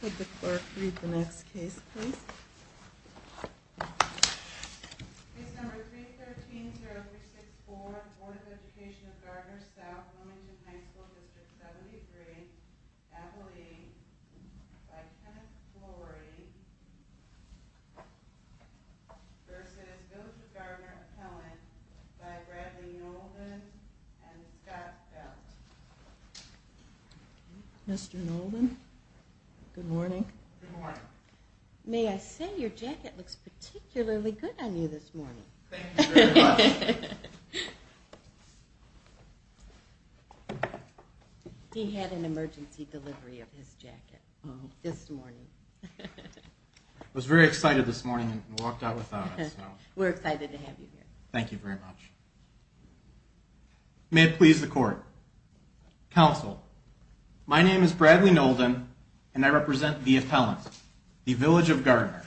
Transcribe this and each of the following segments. Could the clerk read the next case please? Case number 313-0364 of the Board of Education of Gardner-South Wilmington High School District 73 Appellee by Kenneth Flory v. Village of Gardner Appellant by Bradley Knowlton and Scott Felt Mr. Knowlton, good morning. Good morning. May I say your jacket looks particularly good on you this morning. Thank you very much. He had an emergency delivery of his jacket this morning. I was very excited this morning and walked out without it. We're excited to have you here. Thank you very much. May it please the court. Counsel, my name is Bradley Knowlton and I represent the appellant, the Village of Gardner.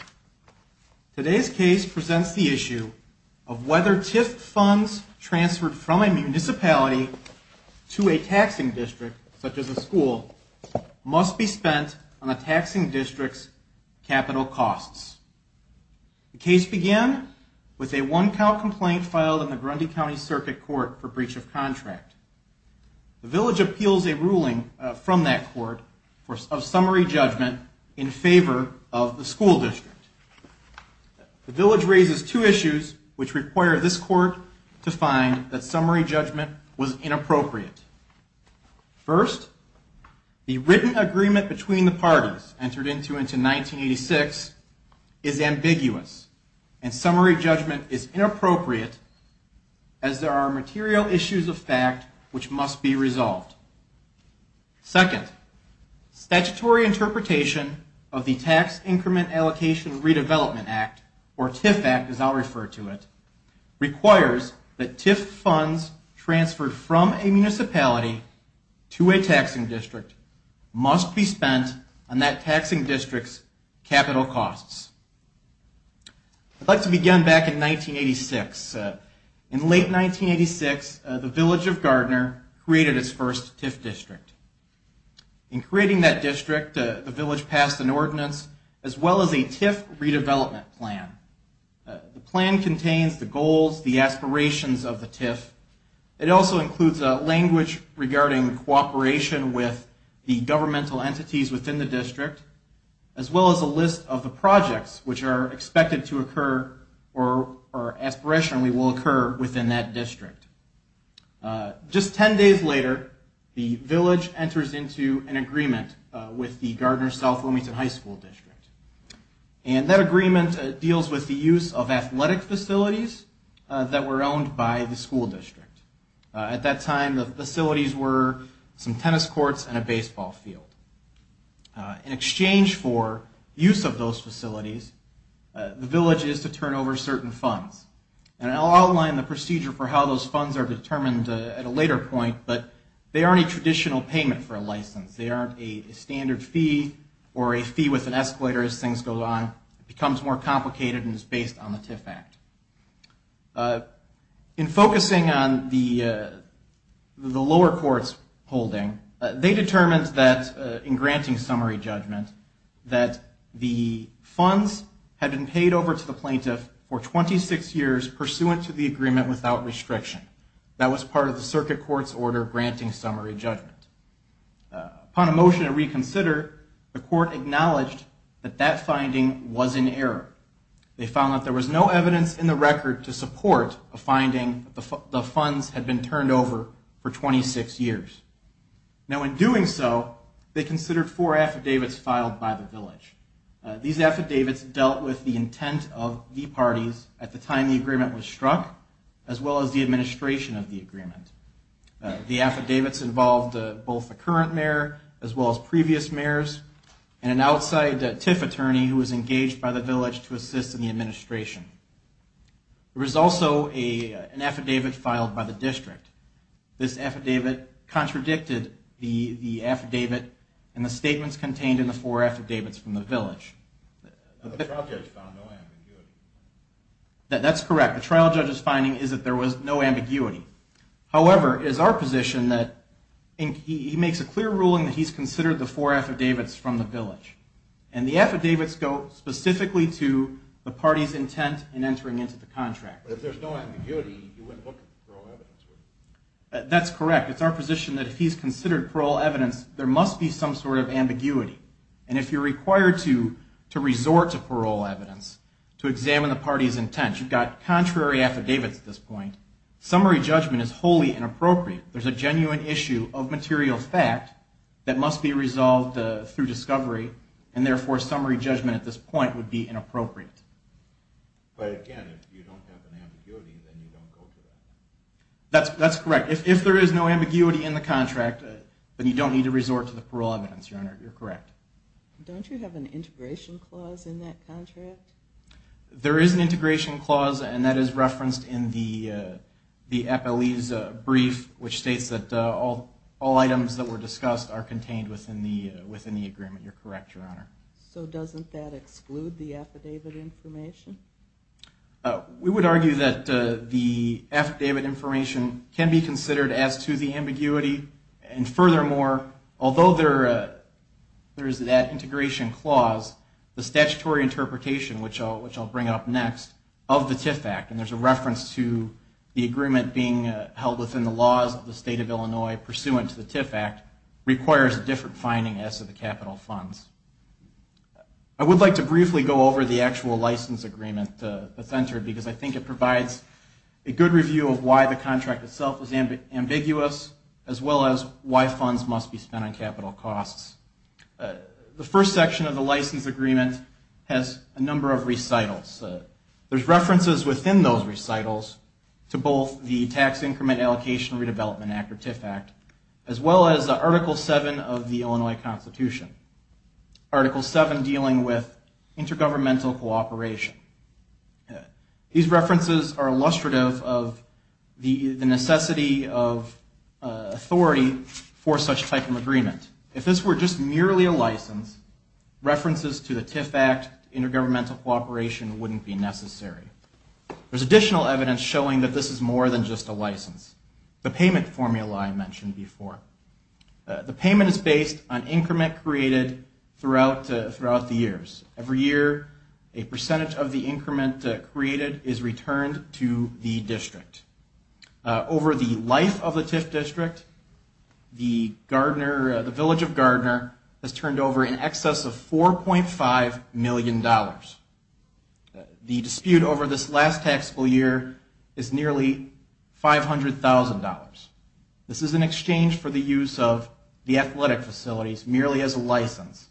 Today's case presents the issue of whether TIF funds transferred from a municipality to a taxing district, such as a school, must be spent on a taxing district's capital costs. The case began with a one count complaint filed in the Grundy County Circuit Court for breach of contract. The Village appeals a ruling from that court of summary judgment in favor of the school district. The Village raises two issues which require this court to find that summary judgment was inappropriate. First, the written agreement between the parties entered into in 1986 is ambiguous and summary judgment is inappropriate as there are material issues of fact which must be resolved. Second, statutory interpretation of the Tax Increment Allocation Redevelopment Act, or TIF Act as I'll refer to it, requires that TIF funds transferred from a municipality to a taxing district must be spent on that taxing district's capital costs. I'd like to begin back in 1986. In late 1986, the Village of Gardner created its first TIF district. In creating that district, the Village passed an ordinance as well as a TIF redevelopment plan. The plan contains the goals, the aspirations of the TIF. It also includes language regarding cooperation with the governmental entities within the district, as well as a list of the projects which are expected to occur or aspirationally will occur within that district. Just ten days later, the Village enters into an agreement with the Gardner South Wilmington High School District. And that agreement deals with the use of athletic facilities that were owned by the school district. At that time, the facilities were some tennis courts and a baseball field. In exchange for use of those facilities, the Village is to turn over certain funds. And I'll outline the procedure for how those funds are determined at a later point, but they aren't a traditional payment for a license. They aren't a standard fee or a fee with an escalator as things go along. It becomes more complicated and is based on the TIF Act. In focusing on the lower courts holding, they determined that in granting summary judgment, that the funds had been paid over to the plaintiff for 26 years pursuant to the agreement without restriction. That was part of the circuit court's order granting summary judgment. Upon a motion to reconsider, the court acknowledged that that finding was in error. They found that there was no evidence in the record to support a finding that the funds had been turned over for 26 years. Now, in doing so, they considered four affidavits filed by the Village. These affidavits dealt with the intent of the parties at the time the agreement was struck, as well as the administration of the agreement. The affidavits involved both the current mayor, as well as previous mayors, and an outside TIF attorney who was engaged by the Village to assist in the administration. There was also an affidavit filed by the district. This affidavit contradicted the affidavit in the statements contained in the four affidavits from the Village. The trial judge found no ambiguity. That's correct. The trial judge's finding is that there was no ambiguity. However, it is our position that he makes a clear ruling that he's considered the four affidavits from the Village. And the affidavits go specifically to the parties' intent in entering into the contract. But if there's no ambiguity, you wouldn't look at the parole evidence, would you? That's correct. It's our position that if he's considered parole evidence, there must be some sort of ambiguity. And if you're required to resort to parole evidence to examine the party's intent, you've got contrary affidavits at this point, summary judgment is wholly inappropriate. There's a genuine issue of material fact that must be resolved through discovery, and therefore summary judgment at this point would be inappropriate. But again, if you don't have an ambiguity, then you don't go to that. That's correct. If there is no ambiguity in the contract, then you don't need to resort to the parole evidence, Your Honor. You're correct. Don't you have an integration clause in that contract? There is an integration clause, and that is referenced in the FLE's brief, which states that all items that were discussed are contained within the agreement. You're correct, Your Honor. So doesn't that exclude the affidavit information? We would argue that the affidavit information can be considered as to the ambiguity, and furthermore, although there is that integration clause, the statutory interpretation, which I'll bring up next, of the TIF Act, and there's a reference to the agreement being held within the laws of the State of Illinois pursuant to the TIF Act, requires a different finding as to the capital funds. I would like to briefly go over the actual license agreement that's entered, because I think it provides a good review of why the contract itself is ambiguous, as well as why funds must be spent on capital costs. The first section of the license agreement has a number of recitals. There's references within those recitals to both the Tax Increment Allocation Redevelopment Act, or TIF Act, as well as Article 7 of the Illinois Constitution, Article 7 dealing with intergovernmental cooperation. These references are illustrative of the necessity of authority for such type of agreement. If this were just merely a license, references to the TIF Act, intergovernmental cooperation wouldn't be necessary. There's additional evidence showing that this is more than just a license. The payment formula I mentioned before. The payment is based on increment created throughout the years. Every year, a percentage of the increment created is returned to the district. Over the life of the TIF district, the village of Gardner has turned over in excess of $4.5 million. The dispute over this last taxable year is nearly $500,000. This is in exchange for the use of the athletic facilities merely as a license.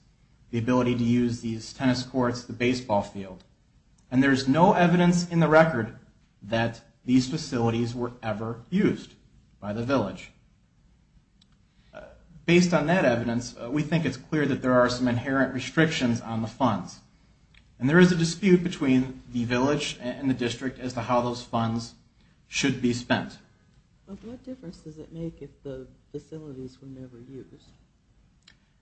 The ability to use these tennis courts, the baseball field. And there's no evidence in the record that these facilities were ever used by the village. Based on that evidence, we think it's clear that there are some inherent restrictions on the funds. And there is a dispute between the village and the district as to how those funds should be spent. What difference does it make if the facilities were never used?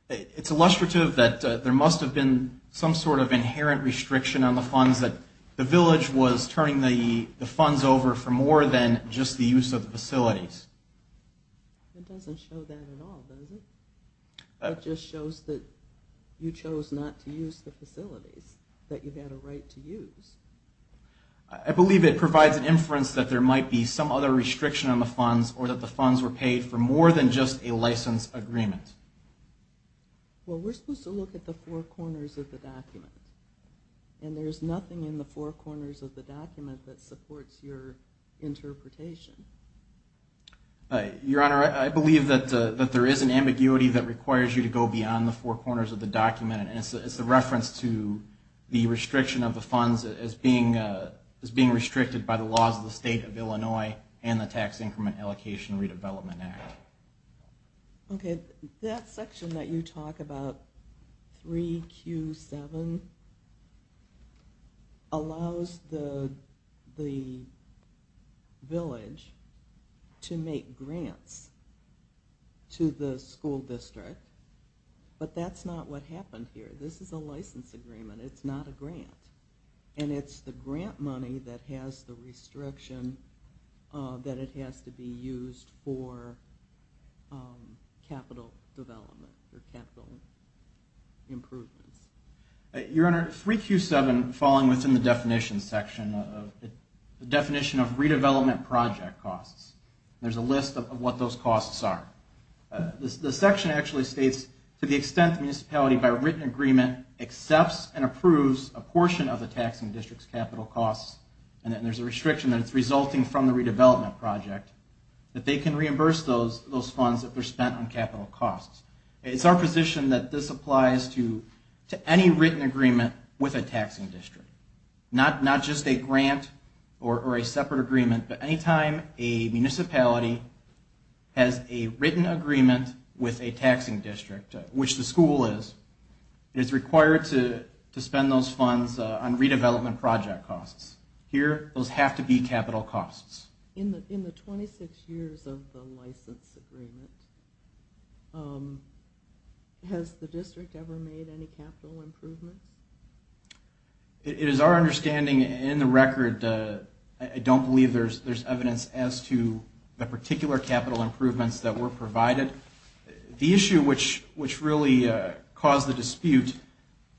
It's illustrative that there must have been some sort of inherent restriction on the funds that the village was turning the funds over for more than just the use of the facilities. It doesn't show that at all, does it? It just shows that you chose not to use the facilities that you've had a right to use. I believe it provides an inference that there might be some other restriction on the funds or that the funds were paid for more than just a license agreement. Well, we're supposed to look at the four corners of the document. And there's nothing in the four corners of the document that supports your interpretation. Your Honor, I believe that there is an ambiguity that requires you to go beyond the four corners of the document. And it's the reference to the restriction of the funds as being restricted by the laws of the state of Illinois and the Tax Increment Allocation Redevelopment Act. Okay, that section that you talk about, 3Q7, allows the village to make grants to the school district. But that's not what happened here. This is a license agreement. It's not a grant. And it's the grant money that has the restriction that it has to be used for capital development or capital improvements. Your Honor, 3Q7 falling within the definition section, the definition of redevelopment project costs. There's a list of what those costs are. The section actually states, to the extent the municipality, by written agreement, accepts and approves a portion of the taxing district's capital costs, and there's a restriction that it's resulting from the redevelopment project, that they can reimburse those funds if they're spent on capital costs. It's our position that this applies to any written agreement with a taxing district. Not just a grant or a separate agreement, but any time a municipality has a written agreement with a taxing district, which the school is, it's required to spend those funds on redevelopment project costs. Here, those have to be capital costs. In the 26 years of the license agreement, has the district ever made any capital improvements? It is our understanding in the record, I don't believe there's evidence as to the particular capital improvements that were provided. The issue which really caused the dispute,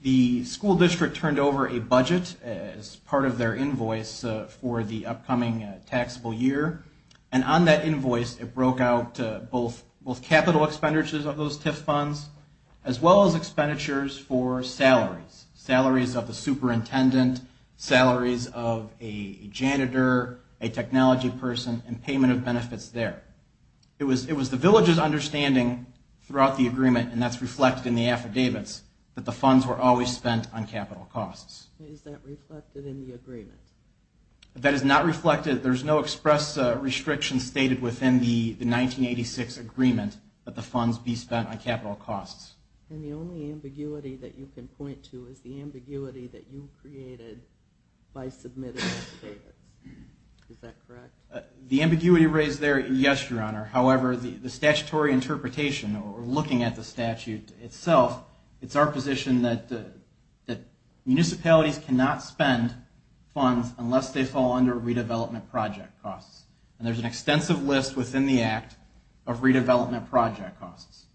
the school district turned over a budget as part of their invoice for the upcoming taxable year, and on that invoice, it broke out both capital expenditures of those TIF funds, as well as expenditures for salaries. Salaries of the superintendent, salaries of a janitor, a technology person, and payment of benefits there. It was the village's understanding throughout the agreement, and that's reflected in the affidavits, that the funds were always spent on capital costs. Is that reflected in the agreement? That is not reflected. There's no express restriction stated within the 1986 agreement that the funds be spent on capital costs. And the only ambiguity that you can point to is the ambiguity that you created by submitting the affidavits. Is that correct? The ambiguity raised there, yes, Your Honor. However, the statutory interpretation, or looking at the statute itself, it's our position that municipalities cannot spend funds unless they fall under redevelopment project costs. And there's an extensive list within the act of redevelopment project costs.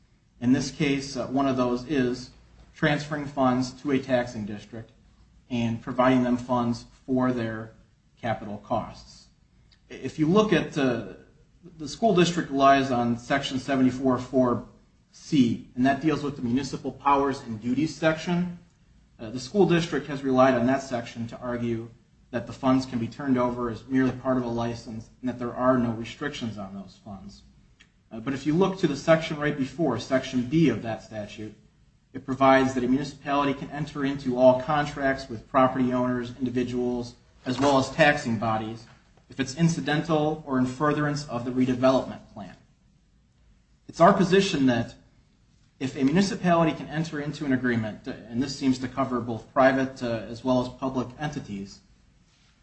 In this case, one of those is transferring funds to a taxing district and providing them funds for their capital costs. If you look at the school district relies on Section 744C, and that deals with the municipal powers and duties section, the school district has relied on that section to argue that the funds can be turned over as merely part of a license, and that there are no restrictions on those funds. But if you look to the section right before, Section B of that statute, it provides that a municipality can enter into all contracts with property owners, individuals, as well as taxing bodies if it's incidental or in furtherance of the redevelopment plan. It's our position that if a municipality can enter into an agreement, and this seems to cover both private as well as public entities,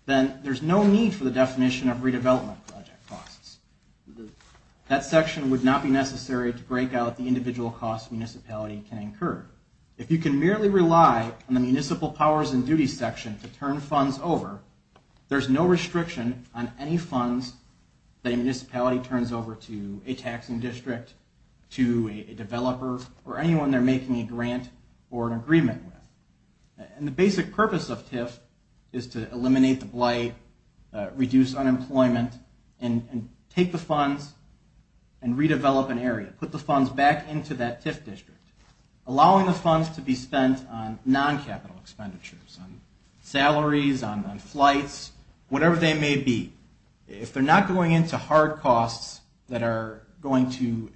then there's no need for the definition of redevelopment project costs. That section would not be necessary to break out the individual costs municipality can incur. If you can merely rely on the municipal powers and duties section to turn funds over, there's no restriction on any funds that a municipality turns over to a taxing district, to a developer, or anyone they're making a grant or an agreement with. And the basic purpose of TIF is to eliminate the blight, reduce unemployment, and take the funds and redevelop an area, put the funds back into that TIF district, allowing the funds to be spent on non-capital expenditures, on salaries, on flights, whatever they may be. If they're not going into hard costs that are going to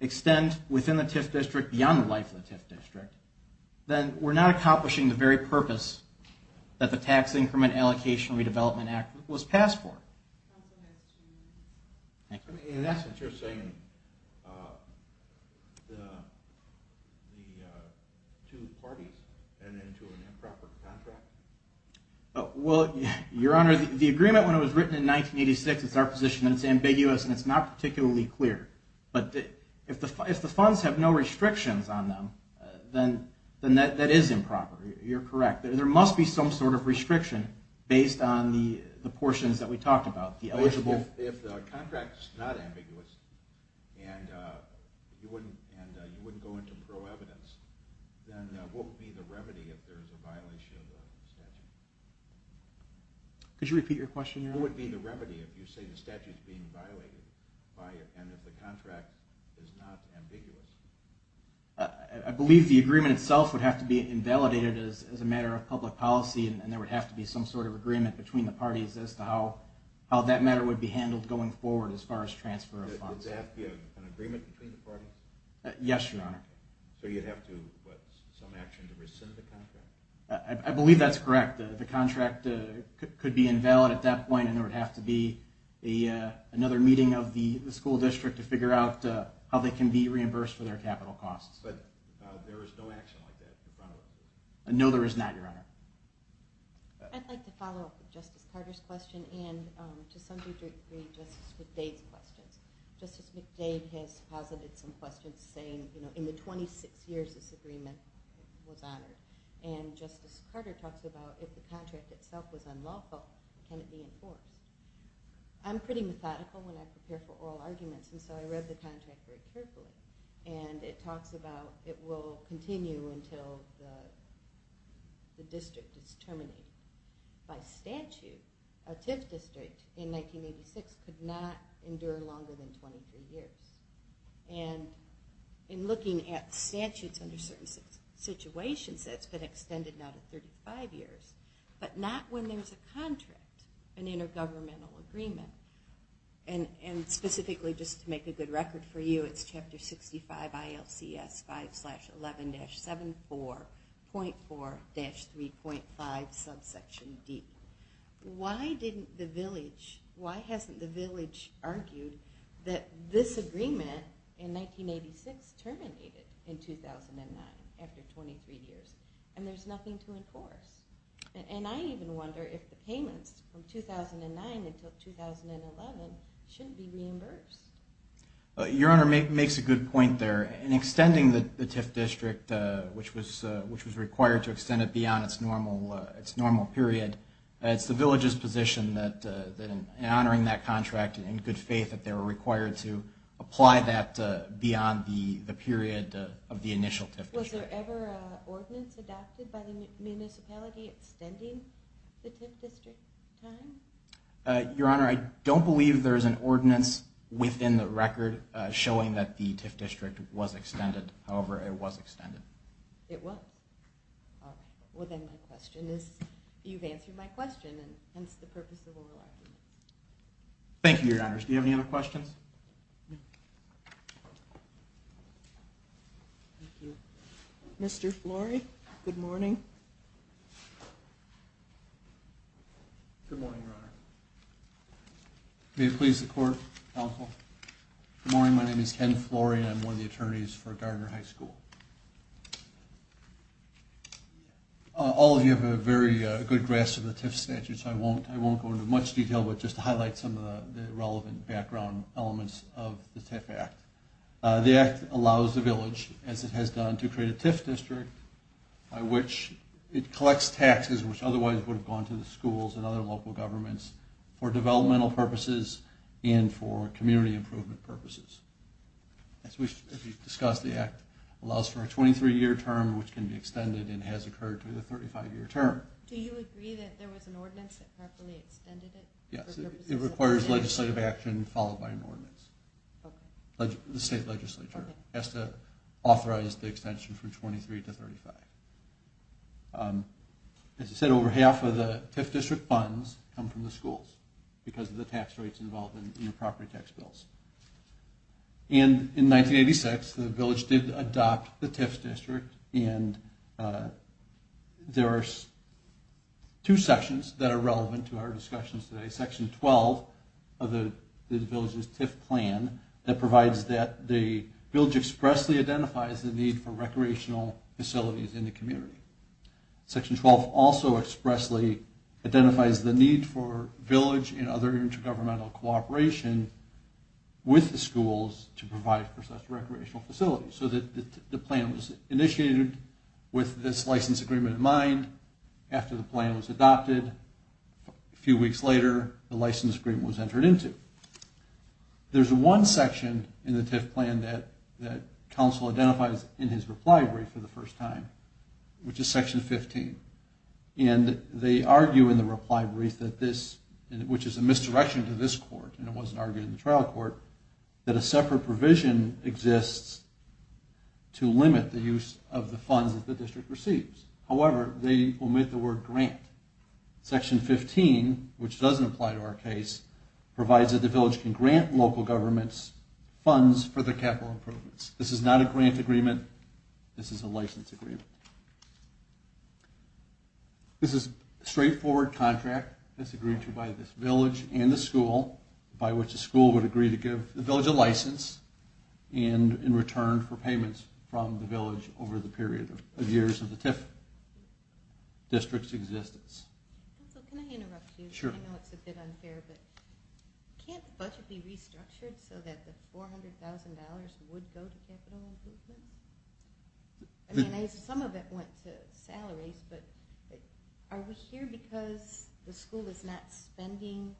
extend within the TIF district, beyond the life of the TIF district, then we're not accomplishing the very purpose that the Tax Increment Allocation Redevelopment Act was passed for. In essence, you're saying the two parties ended up in an improper contract? Well, Your Honor, the agreement when it was written in 1986, it's our position that it's ambiguous and it's not particularly clear. But if the funds have no restrictions on them, then that is improper. You're correct. There must be some sort of restriction based on the portions that we talked about. If the contract's not ambiguous and you wouldn't go into pro-evidence, then what would be the remedy if there's a violation of the statute? Could you repeat your question, Your Honor? What would be the remedy if you say the statute's being violated and if the contract is not ambiguous? I believe the agreement itself would have to be invalidated as a matter of public policy and there would have to be some sort of agreement between the parties as to how that matter would be handled going forward as far as transfer of funds. Would there have to be an agreement between the parties? Yes, Your Honor. So you'd have to put some action to rescind the contract? I believe that's correct. The contract could be invalid at that point and there would have to be another meeting of the school district to figure out how they can be reimbursed for their capital costs. But there is no action like that in front of it? No, there is not, Your Honor. I'd like to follow up with Justice Carter's question and to some degree Justice McDade's questions. Justice McDade has posited some questions saying in the 26 years this agreement was honored and Justice Carter talks about if the contract itself was unlawful, can it be enforced? I'm pretty methodical when I prepare for oral arguments and so I read the contract very carefully and it talks about it will continue until the district is terminated. By statute, a TIF district in 1986 could not endure longer than 23 years. And in looking at statutes under certain situations, that's been extended now to 35 years, but not when there's a contract, an intergovernmental agreement. And specifically just to make a good record for you, it's chapter 65 ILCS 5-11-74.4-3.5 subsection D. Why hasn't the village argued that this agreement in 1986 terminated in 2009 after 23 years and there's nothing to enforce? And I even wonder if the payments from 2009 until 2011 shouldn't be reimbursed. Your Honor makes a good point there. In extending the TIF district, which was required to extend it beyond its normal period, it's the village's position that in honoring that contract, in good faith, that they were required to apply that beyond the period of the initial TIF district. Was there ever an ordinance adopted by the municipality extending the TIF district time? Your Honor, I don't believe there is an ordinance within the record showing that the TIF district was extended. However, it was extended. It was? All right. Well, then my question is, you've answered my question, and hence the purpose of oral arguments. Thank you, Your Honors. Do you have any other questions? Yes. Mr. Flory, good morning. Good morning, Your Honor. May it please the Court, counsel. Good morning. My name is Ken Flory, and I'm one of the attorneys for Gardner High School. All of you have a very good grasp of the TIF statute, so I won't go into much detail but just to highlight some of the relevant background elements of the TIF Act. The Act allows the village, as it has done, to create a TIF district by which it collects taxes which otherwise would have gone to the schools and other local governments for developmental purposes and for community improvement purposes. As we've discussed, the Act allows for a 23-year term which can be extended and has occurred through the 35-year term. Do you agree that there was an ordinance that properly extended it? Yes, it requires legislative action followed by an ordinance. The state legislature has to authorize the extension from 23 to 35. As I said, over half of the TIF district funds come from the schools because of the tax rates involved in the property tax bills. In 1986, the village did adopt the TIF district, and there are two sections that are relevant to our discussions today. Section 12 of the village's TIF plan provides that the village expressly identifies the need for recreational facilities in the community. Section 12 also expressly identifies the need for village and other intergovernmental cooperation with the schools to provide recreational facilities. So the plan was initiated with this license agreement in mind. After the plan was adopted, a few weeks later, the license agreement was entered into. There's one section in the TIF plan that council identifies in his reply brief for the first time, which is Section 15. They argue in the reply brief, which is a misdirection to this court, and it wasn't argued in the trial court, that a separate provision exists to limit the use of the funds that the district receives. However, they omit the word grant. Section 15, which doesn't apply to our case, provides that the village can grant local governments funds for their capital improvements. This is not a grant agreement. This is a license agreement. This is a straightforward contract that's agreed to by this village and the school, by which the school would agree to give the village a license in return for payments from the village over the period of years of the TIF district's existence. Can I interrupt you? I know it's a bit unfair, but can't the budget be restructured so that the $400,000 would go to capital improvement? I mean, some of it went to salaries, but are we here because the school is not spending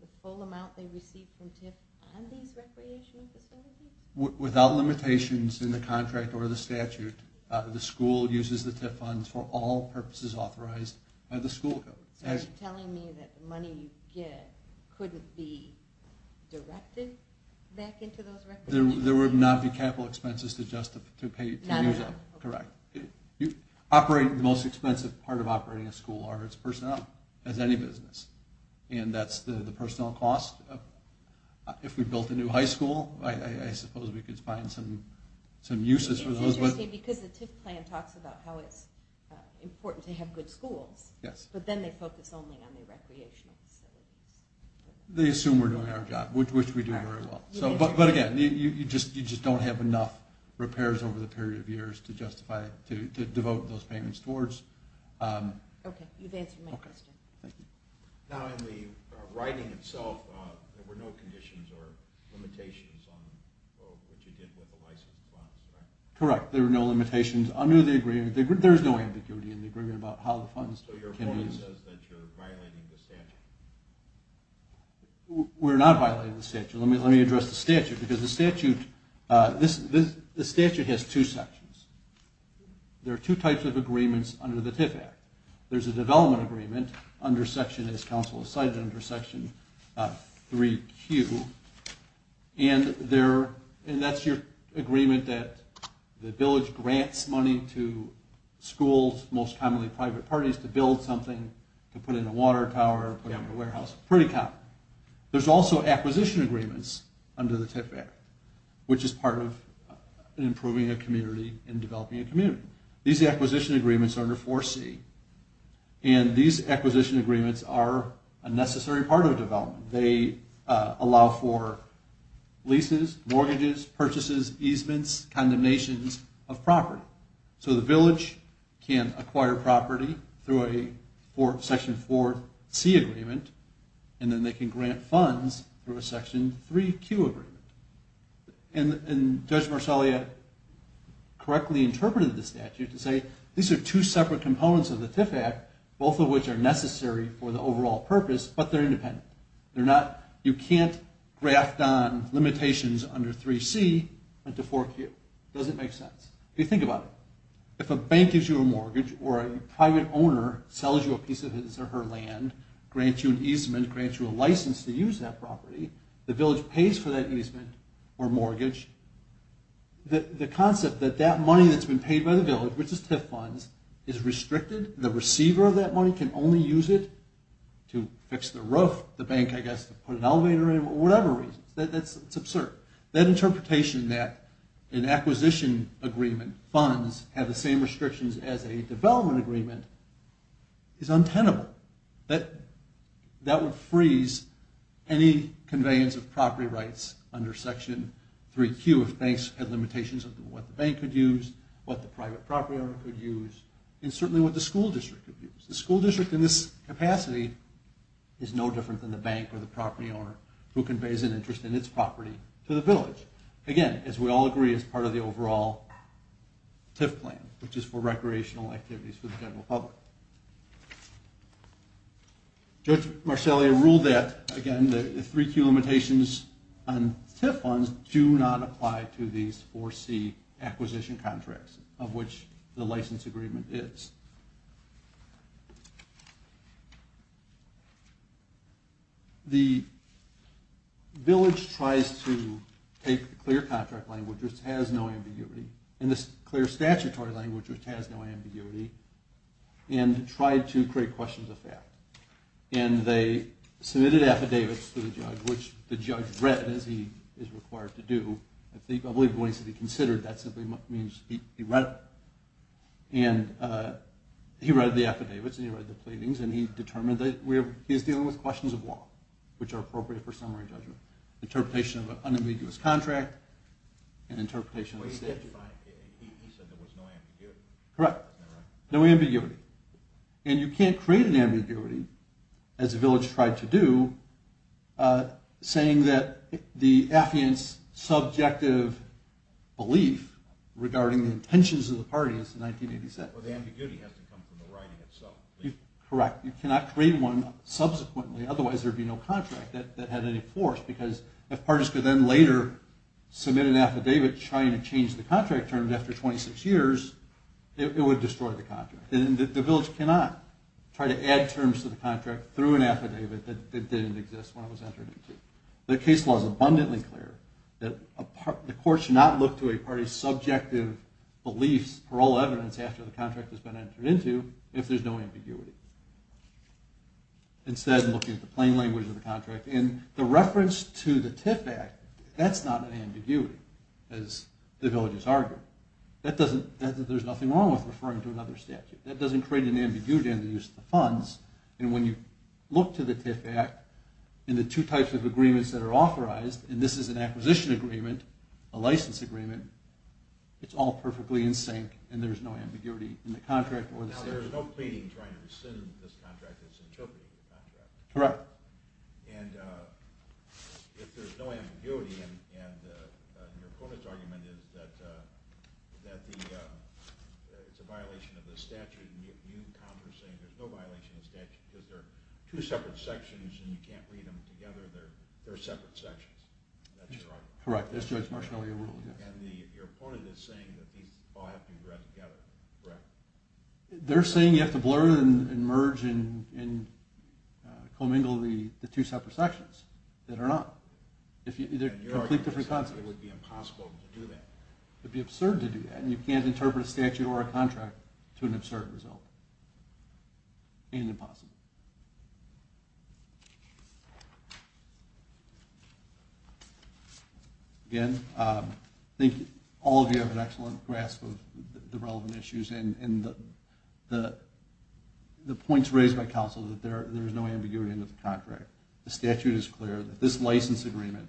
the full amount they received from TIF on these recreational facilities? Without limitations in the contract or the statute, the school uses the TIF funds for all purposes authorized by the school. So you're telling me that the money you get couldn't be directed back into those recreational facilities? There would not be capital expenses to use up, correct. The most expensive part of operating a school are its personnel, as any business. And that's the personnel cost. If we built a new high school, I suppose we could find some uses for those. It's interesting because the TIF plan talks about how it's important to have good schools, but then they focus only on the recreational facilities. They assume we're doing our job, which we do very well. But again, you just don't have enough repairs over the period of years to devote those payments towards. Okay, you've answered my question. Now in the writing itself, there were no conditions or limitations on what you did with the licensed funds, right? Correct, there were no limitations under the agreement. There's no ambiguity in the agreement about how the funds can be used. So your point is that you're violating the statute? We're not violating the statute. Let me address the statute because the statute has two sections. There are two types of agreements under the TIF Act. There's a development agreement under section, as counsel has cited, under section 3Q, and that's your agreement that the village grants money to schools, most commonly private parties, to build something, to put in a water tower, put in a warehouse, pretty common. There's also acquisition agreements under the TIF Act, which is part of improving a community and developing a community. These acquisition agreements are under 4C, and these acquisition agreements are a necessary part of development. They allow for leases, mortgages, purchases, easements, condemnations of property. So the village can acquire property through a section 4C agreement, and then they can grant funds through a section 3Q agreement. And Judge Marsalia correctly interpreted the statute to say these are two separate components of the TIF Act, both of which are necessary for the overall purpose, but they're independent. You can't graft on limitations under 3C into 4Q. It doesn't make sense. If you think about it, if a bank gives you a mortgage or a private owner sells you a piece of his or her land, grants you an easement, grants you a license to use that property, the village pays for that easement or mortgage. The concept that that money that's been paid by the village, which is TIF funds, is restricted. The receiver of that money can only use it to fix the roof, the bank, I guess, to put an elevator in, or whatever reason. That's absurd. That interpretation that an acquisition agreement funds have the same restrictions as a development agreement is untenable. That would freeze any conveyance of property rights under Section 3Q if banks had limitations of what the bank could use, what the private property owner could use, and certainly what the school district could use. The school district in this capacity is no different than the bank or the property owner who conveys an interest in its property to the village. Again, as we all agree, it's part of the overall TIF plan, which is for recreational activities for the general public. Judge Marcellia ruled that, again, the 3Q limitations on TIF funds do not apply to these 4C acquisition contracts, of which the license agreement is. The village tries to take the clear contract language, which has no ambiguity, and the clear statutory language, which has no ambiguity, and tried to create questions of fact. And they submitted affidavits to the judge, which the judge read, as he is required to do. I believe the one he said he considered, that simply means he read it. And he read the affidavits and he read the pleadings, and he determined that he was dealing with questions of law, which are appropriate for summary judgment. Interpretation of an unambiguous contract and interpretation of the statute. He said there was no ambiguity. Correct. No ambiguity. And you can't create an ambiguity, as the village tried to do, saying that the affiant's subjective belief regarding the intentions of the party is 1986. Well, the ambiguity has to come from the writing itself. Correct. You cannot create one subsequently. Otherwise, there would be no contract that had any force, because if parties could then later submit an affidavit trying to change the contract terms after 26 years, it would destroy the contract. And the village cannot try to add terms to the contract through an affidavit that didn't exist when it was entered into. The case law is abundantly clear that the court should not look to a party's subjective beliefs, parole evidence, after the contract has been entered into, if there's no ambiguity. Instead, looking at the plain language of the contract. And the reference to the TIF Act, that's not an ambiguity, as the villages argued. There's nothing wrong with referring to another statute. That doesn't create an ambiguity in the use of the funds. And when you look to the TIF Act and the two types of agreements that are authorized, and this is an acquisition agreement, a license agreement, it's all perfectly in sync and there's no ambiguity in the contract or the statute. So there's no pleading trying to rescind this contract, it's interpreting the contract. Correct. And if there's no ambiguity and your opponent's argument is that it's a violation of the statute, and you counter saying there's no violation of the statute because they're two separate sections and you can't read them together, they're separate sections. That's your argument? Correct. That's Judge Marciano's rule, yes. And your opponent is saying that these all have to be read together, correct? They're saying you have to blur and merge and commingle the two separate sections that are not. They're completely different concepts. It would be impossible to do that. It would be absurd to do that, and you can't interpret a statute or a contract to an absurd result. And impossible. Again, I think all of you have an excellent grasp of the relevant issues and the points raised by counsel that there is no ambiguity in the contract. The statute is clear that this license agreement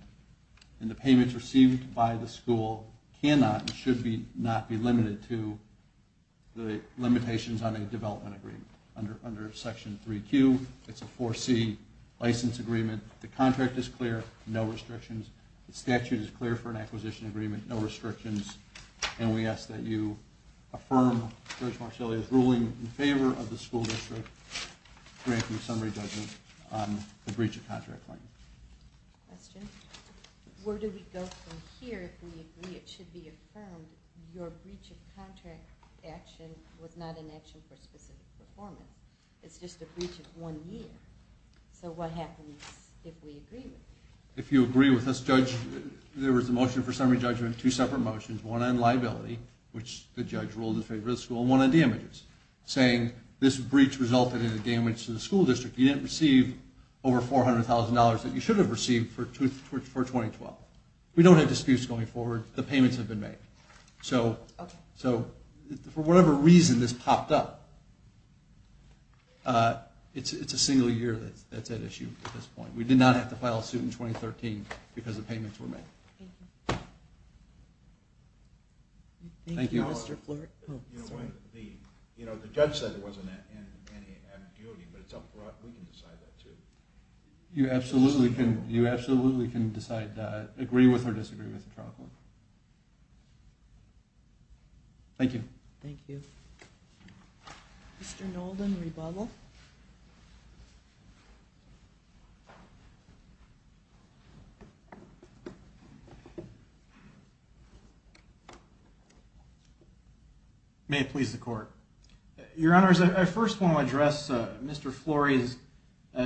and the payments received by the school cannot and should not be limited to the limitations on a development agreement. Under Section 3Q, it's a 4C license agreement. The contract is clear, no restrictions. The statute is clear for an acquisition agreement, no restrictions. And we ask that you affirm Judge Marcelli's ruling in favor of the school district granting summary judgment on the breach of contract claim. Question? Where do we go from here if we agree it should be affirmed your breach of contract action was not an action for specific performance? It's just a breach of one year. So what happens if we agree with it? If you agree with us, Judge, there was a motion for summary judgment, two separate motions, one on liability, which the judge ruled in favor of the school, and one on damages, saying this breach resulted in a damage to the school district. You didn't receive over $400,000 that you should have received for 2012. We don't have disputes going forward. The payments have been made. So for whatever reason this popped up, it's a single year that's at issue at this point. We did not have to file a suit in 2013 because the payments were made. Thank you. Thank you, Mr. Fluhrer. The judge said it wasn't in any ambiguity, but it's up for us. We can decide that too. You absolutely can decide that, agree with or disagree with the trial court. Thank you. Thank you. Mr. Nolden, rebuttal. May it please the court. Your Honors, I first want to address Mr. Flory's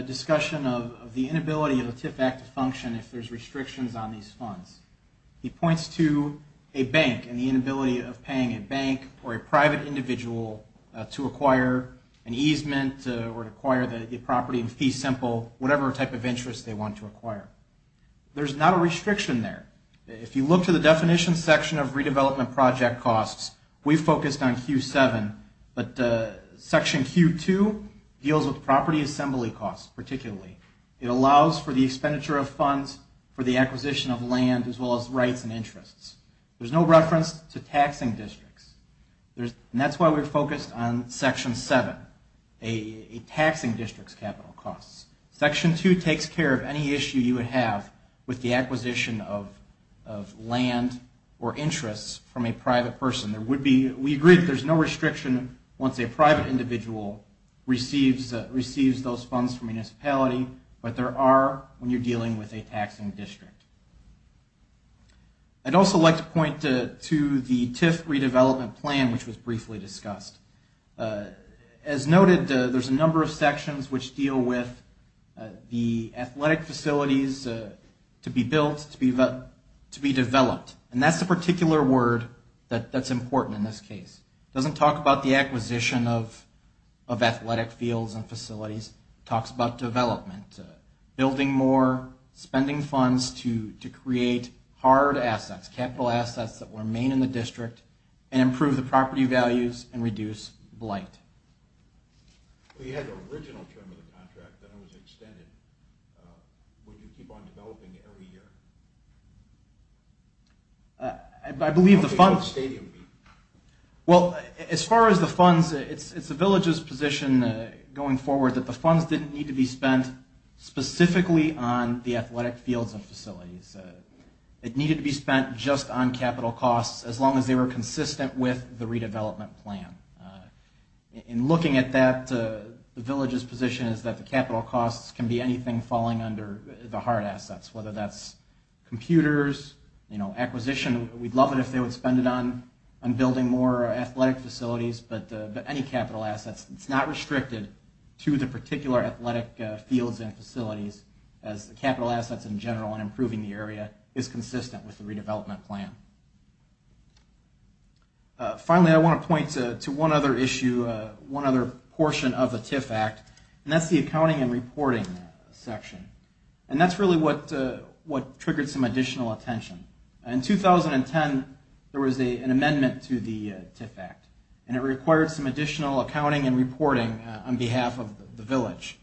discussion of the inability of the TIF Act to function if there's restrictions on these funds. He points to a bank and the inability of paying a bank or a private individual to acquire an easement or to acquire the property in fee simple, whatever type of interest they want to acquire. There's not a restriction there. If you look to the definition section of redevelopment project costs, we focused on Q7, but section Q2 deals with property assembly costs particularly. It allows for the expenditure of funds for the acquisition of land as well as rights and interests. There's no reference to taxing districts, and that's why we're focused on section 7, a taxing district's capital costs. Section 2 takes care of any issue you would have with the acquisition of land or interests from a private person. We agree that there's no restriction once a private individual receives those funds from a municipality, but there are when you're dealing with a taxing district. I'd also like to point to the TIF redevelopment plan, which was briefly discussed. As noted, there's a number of sections which deal with the athletic facilities to be built, to be developed, and that's the particular word that's important in this case. It doesn't talk about the acquisition of athletic fields and facilities. It talks about development, building more, spending funds to create hard assets, capital assets that remain in the district, and improve the property values and reduce blight. You had the original term of the contract, then it was extended. Would you keep on developing every year? I believe the funds... Well, as far as the funds, it's the village's position going forward that the funds didn't need to be spent specifically on the athletic fields and facilities. It needed to be spent just on capital costs as long as they were consistent with the redevelopment plan. In looking at that, the village's position is that the capital costs can be anything falling under the hard assets, whether that's computers, acquisition. We'd love it if they would spend it on building more athletic facilities, but any capital assets. It's not restricted to the particular athletic fields and facilities as capital assets in general and improving the area is consistent with the redevelopment plan. Finally, I want to point to one other issue, one other portion of the TIF Act, and that's the accounting and reporting section. And that's really what triggered some additional attention. In 2010, there was an amendment to the TIF Act, and it required some additional accounting and reporting on behalf of the village.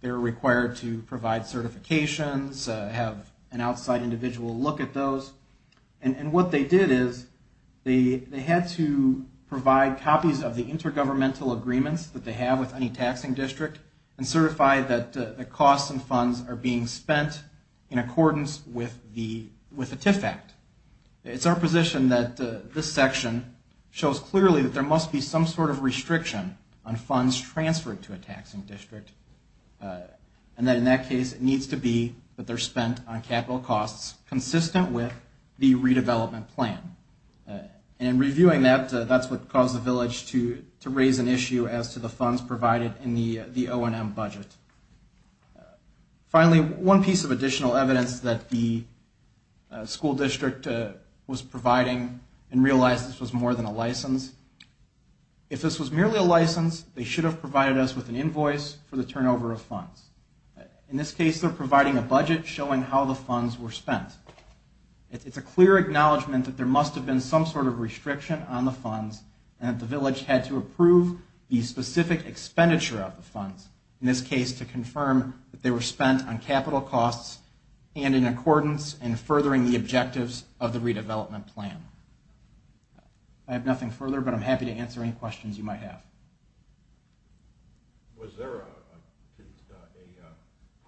They were required to provide certifications, have an outside individual look at those. And what they did is they had to provide copies of the intergovernmental agreements that they have with any taxing district and certify that the costs and funds are being spent in accordance with the TIF Act. It's our position that this section shows clearly that there must be some sort of restriction on funds transferred to a taxing district, and that in that case, it needs to be that they're spent on capital costs consistent with the redevelopment plan. And reviewing that, that's what caused the village to raise an issue as to the funds provided in the O&M budget. Finally, one piece of additional evidence that the school district was providing, and realized this was more than a license, if this was merely a license, they should have provided us with an invoice for the turnover of funds. In this case, they're providing a budget showing how the funds were spent. It's a clear acknowledgment that there must have been some sort of restriction on the funds and that the village had to approve the specific expenditure of the funds. In this case, to confirm that they were spent on capital costs and in accordance and furthering the objectives of the redevelopment plan. I have nothing further, but I'm happy to answer any questions you might have. Was there a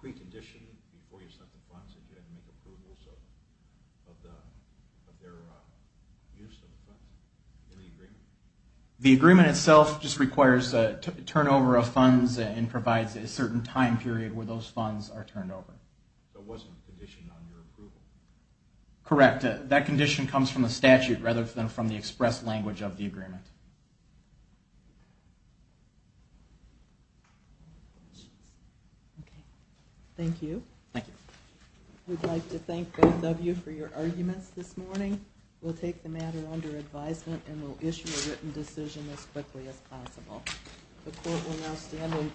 precondition before you set the funds that you had to make approvals of their use of the funds in the agreement? The agreement itself just requires a turnover of funds and provides a certain time period where those funds are turned over. There wasn't a condition on your approval? Correct. That condition comes from the statute rather than from the express language of the agreement. Thank you. Thank you. I would like to thank both of you for your arguments this morning. We'll take the matter under advisement and we'll issue a written decision as quickly as possible. The court will now stand on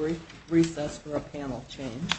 recess for a panel change.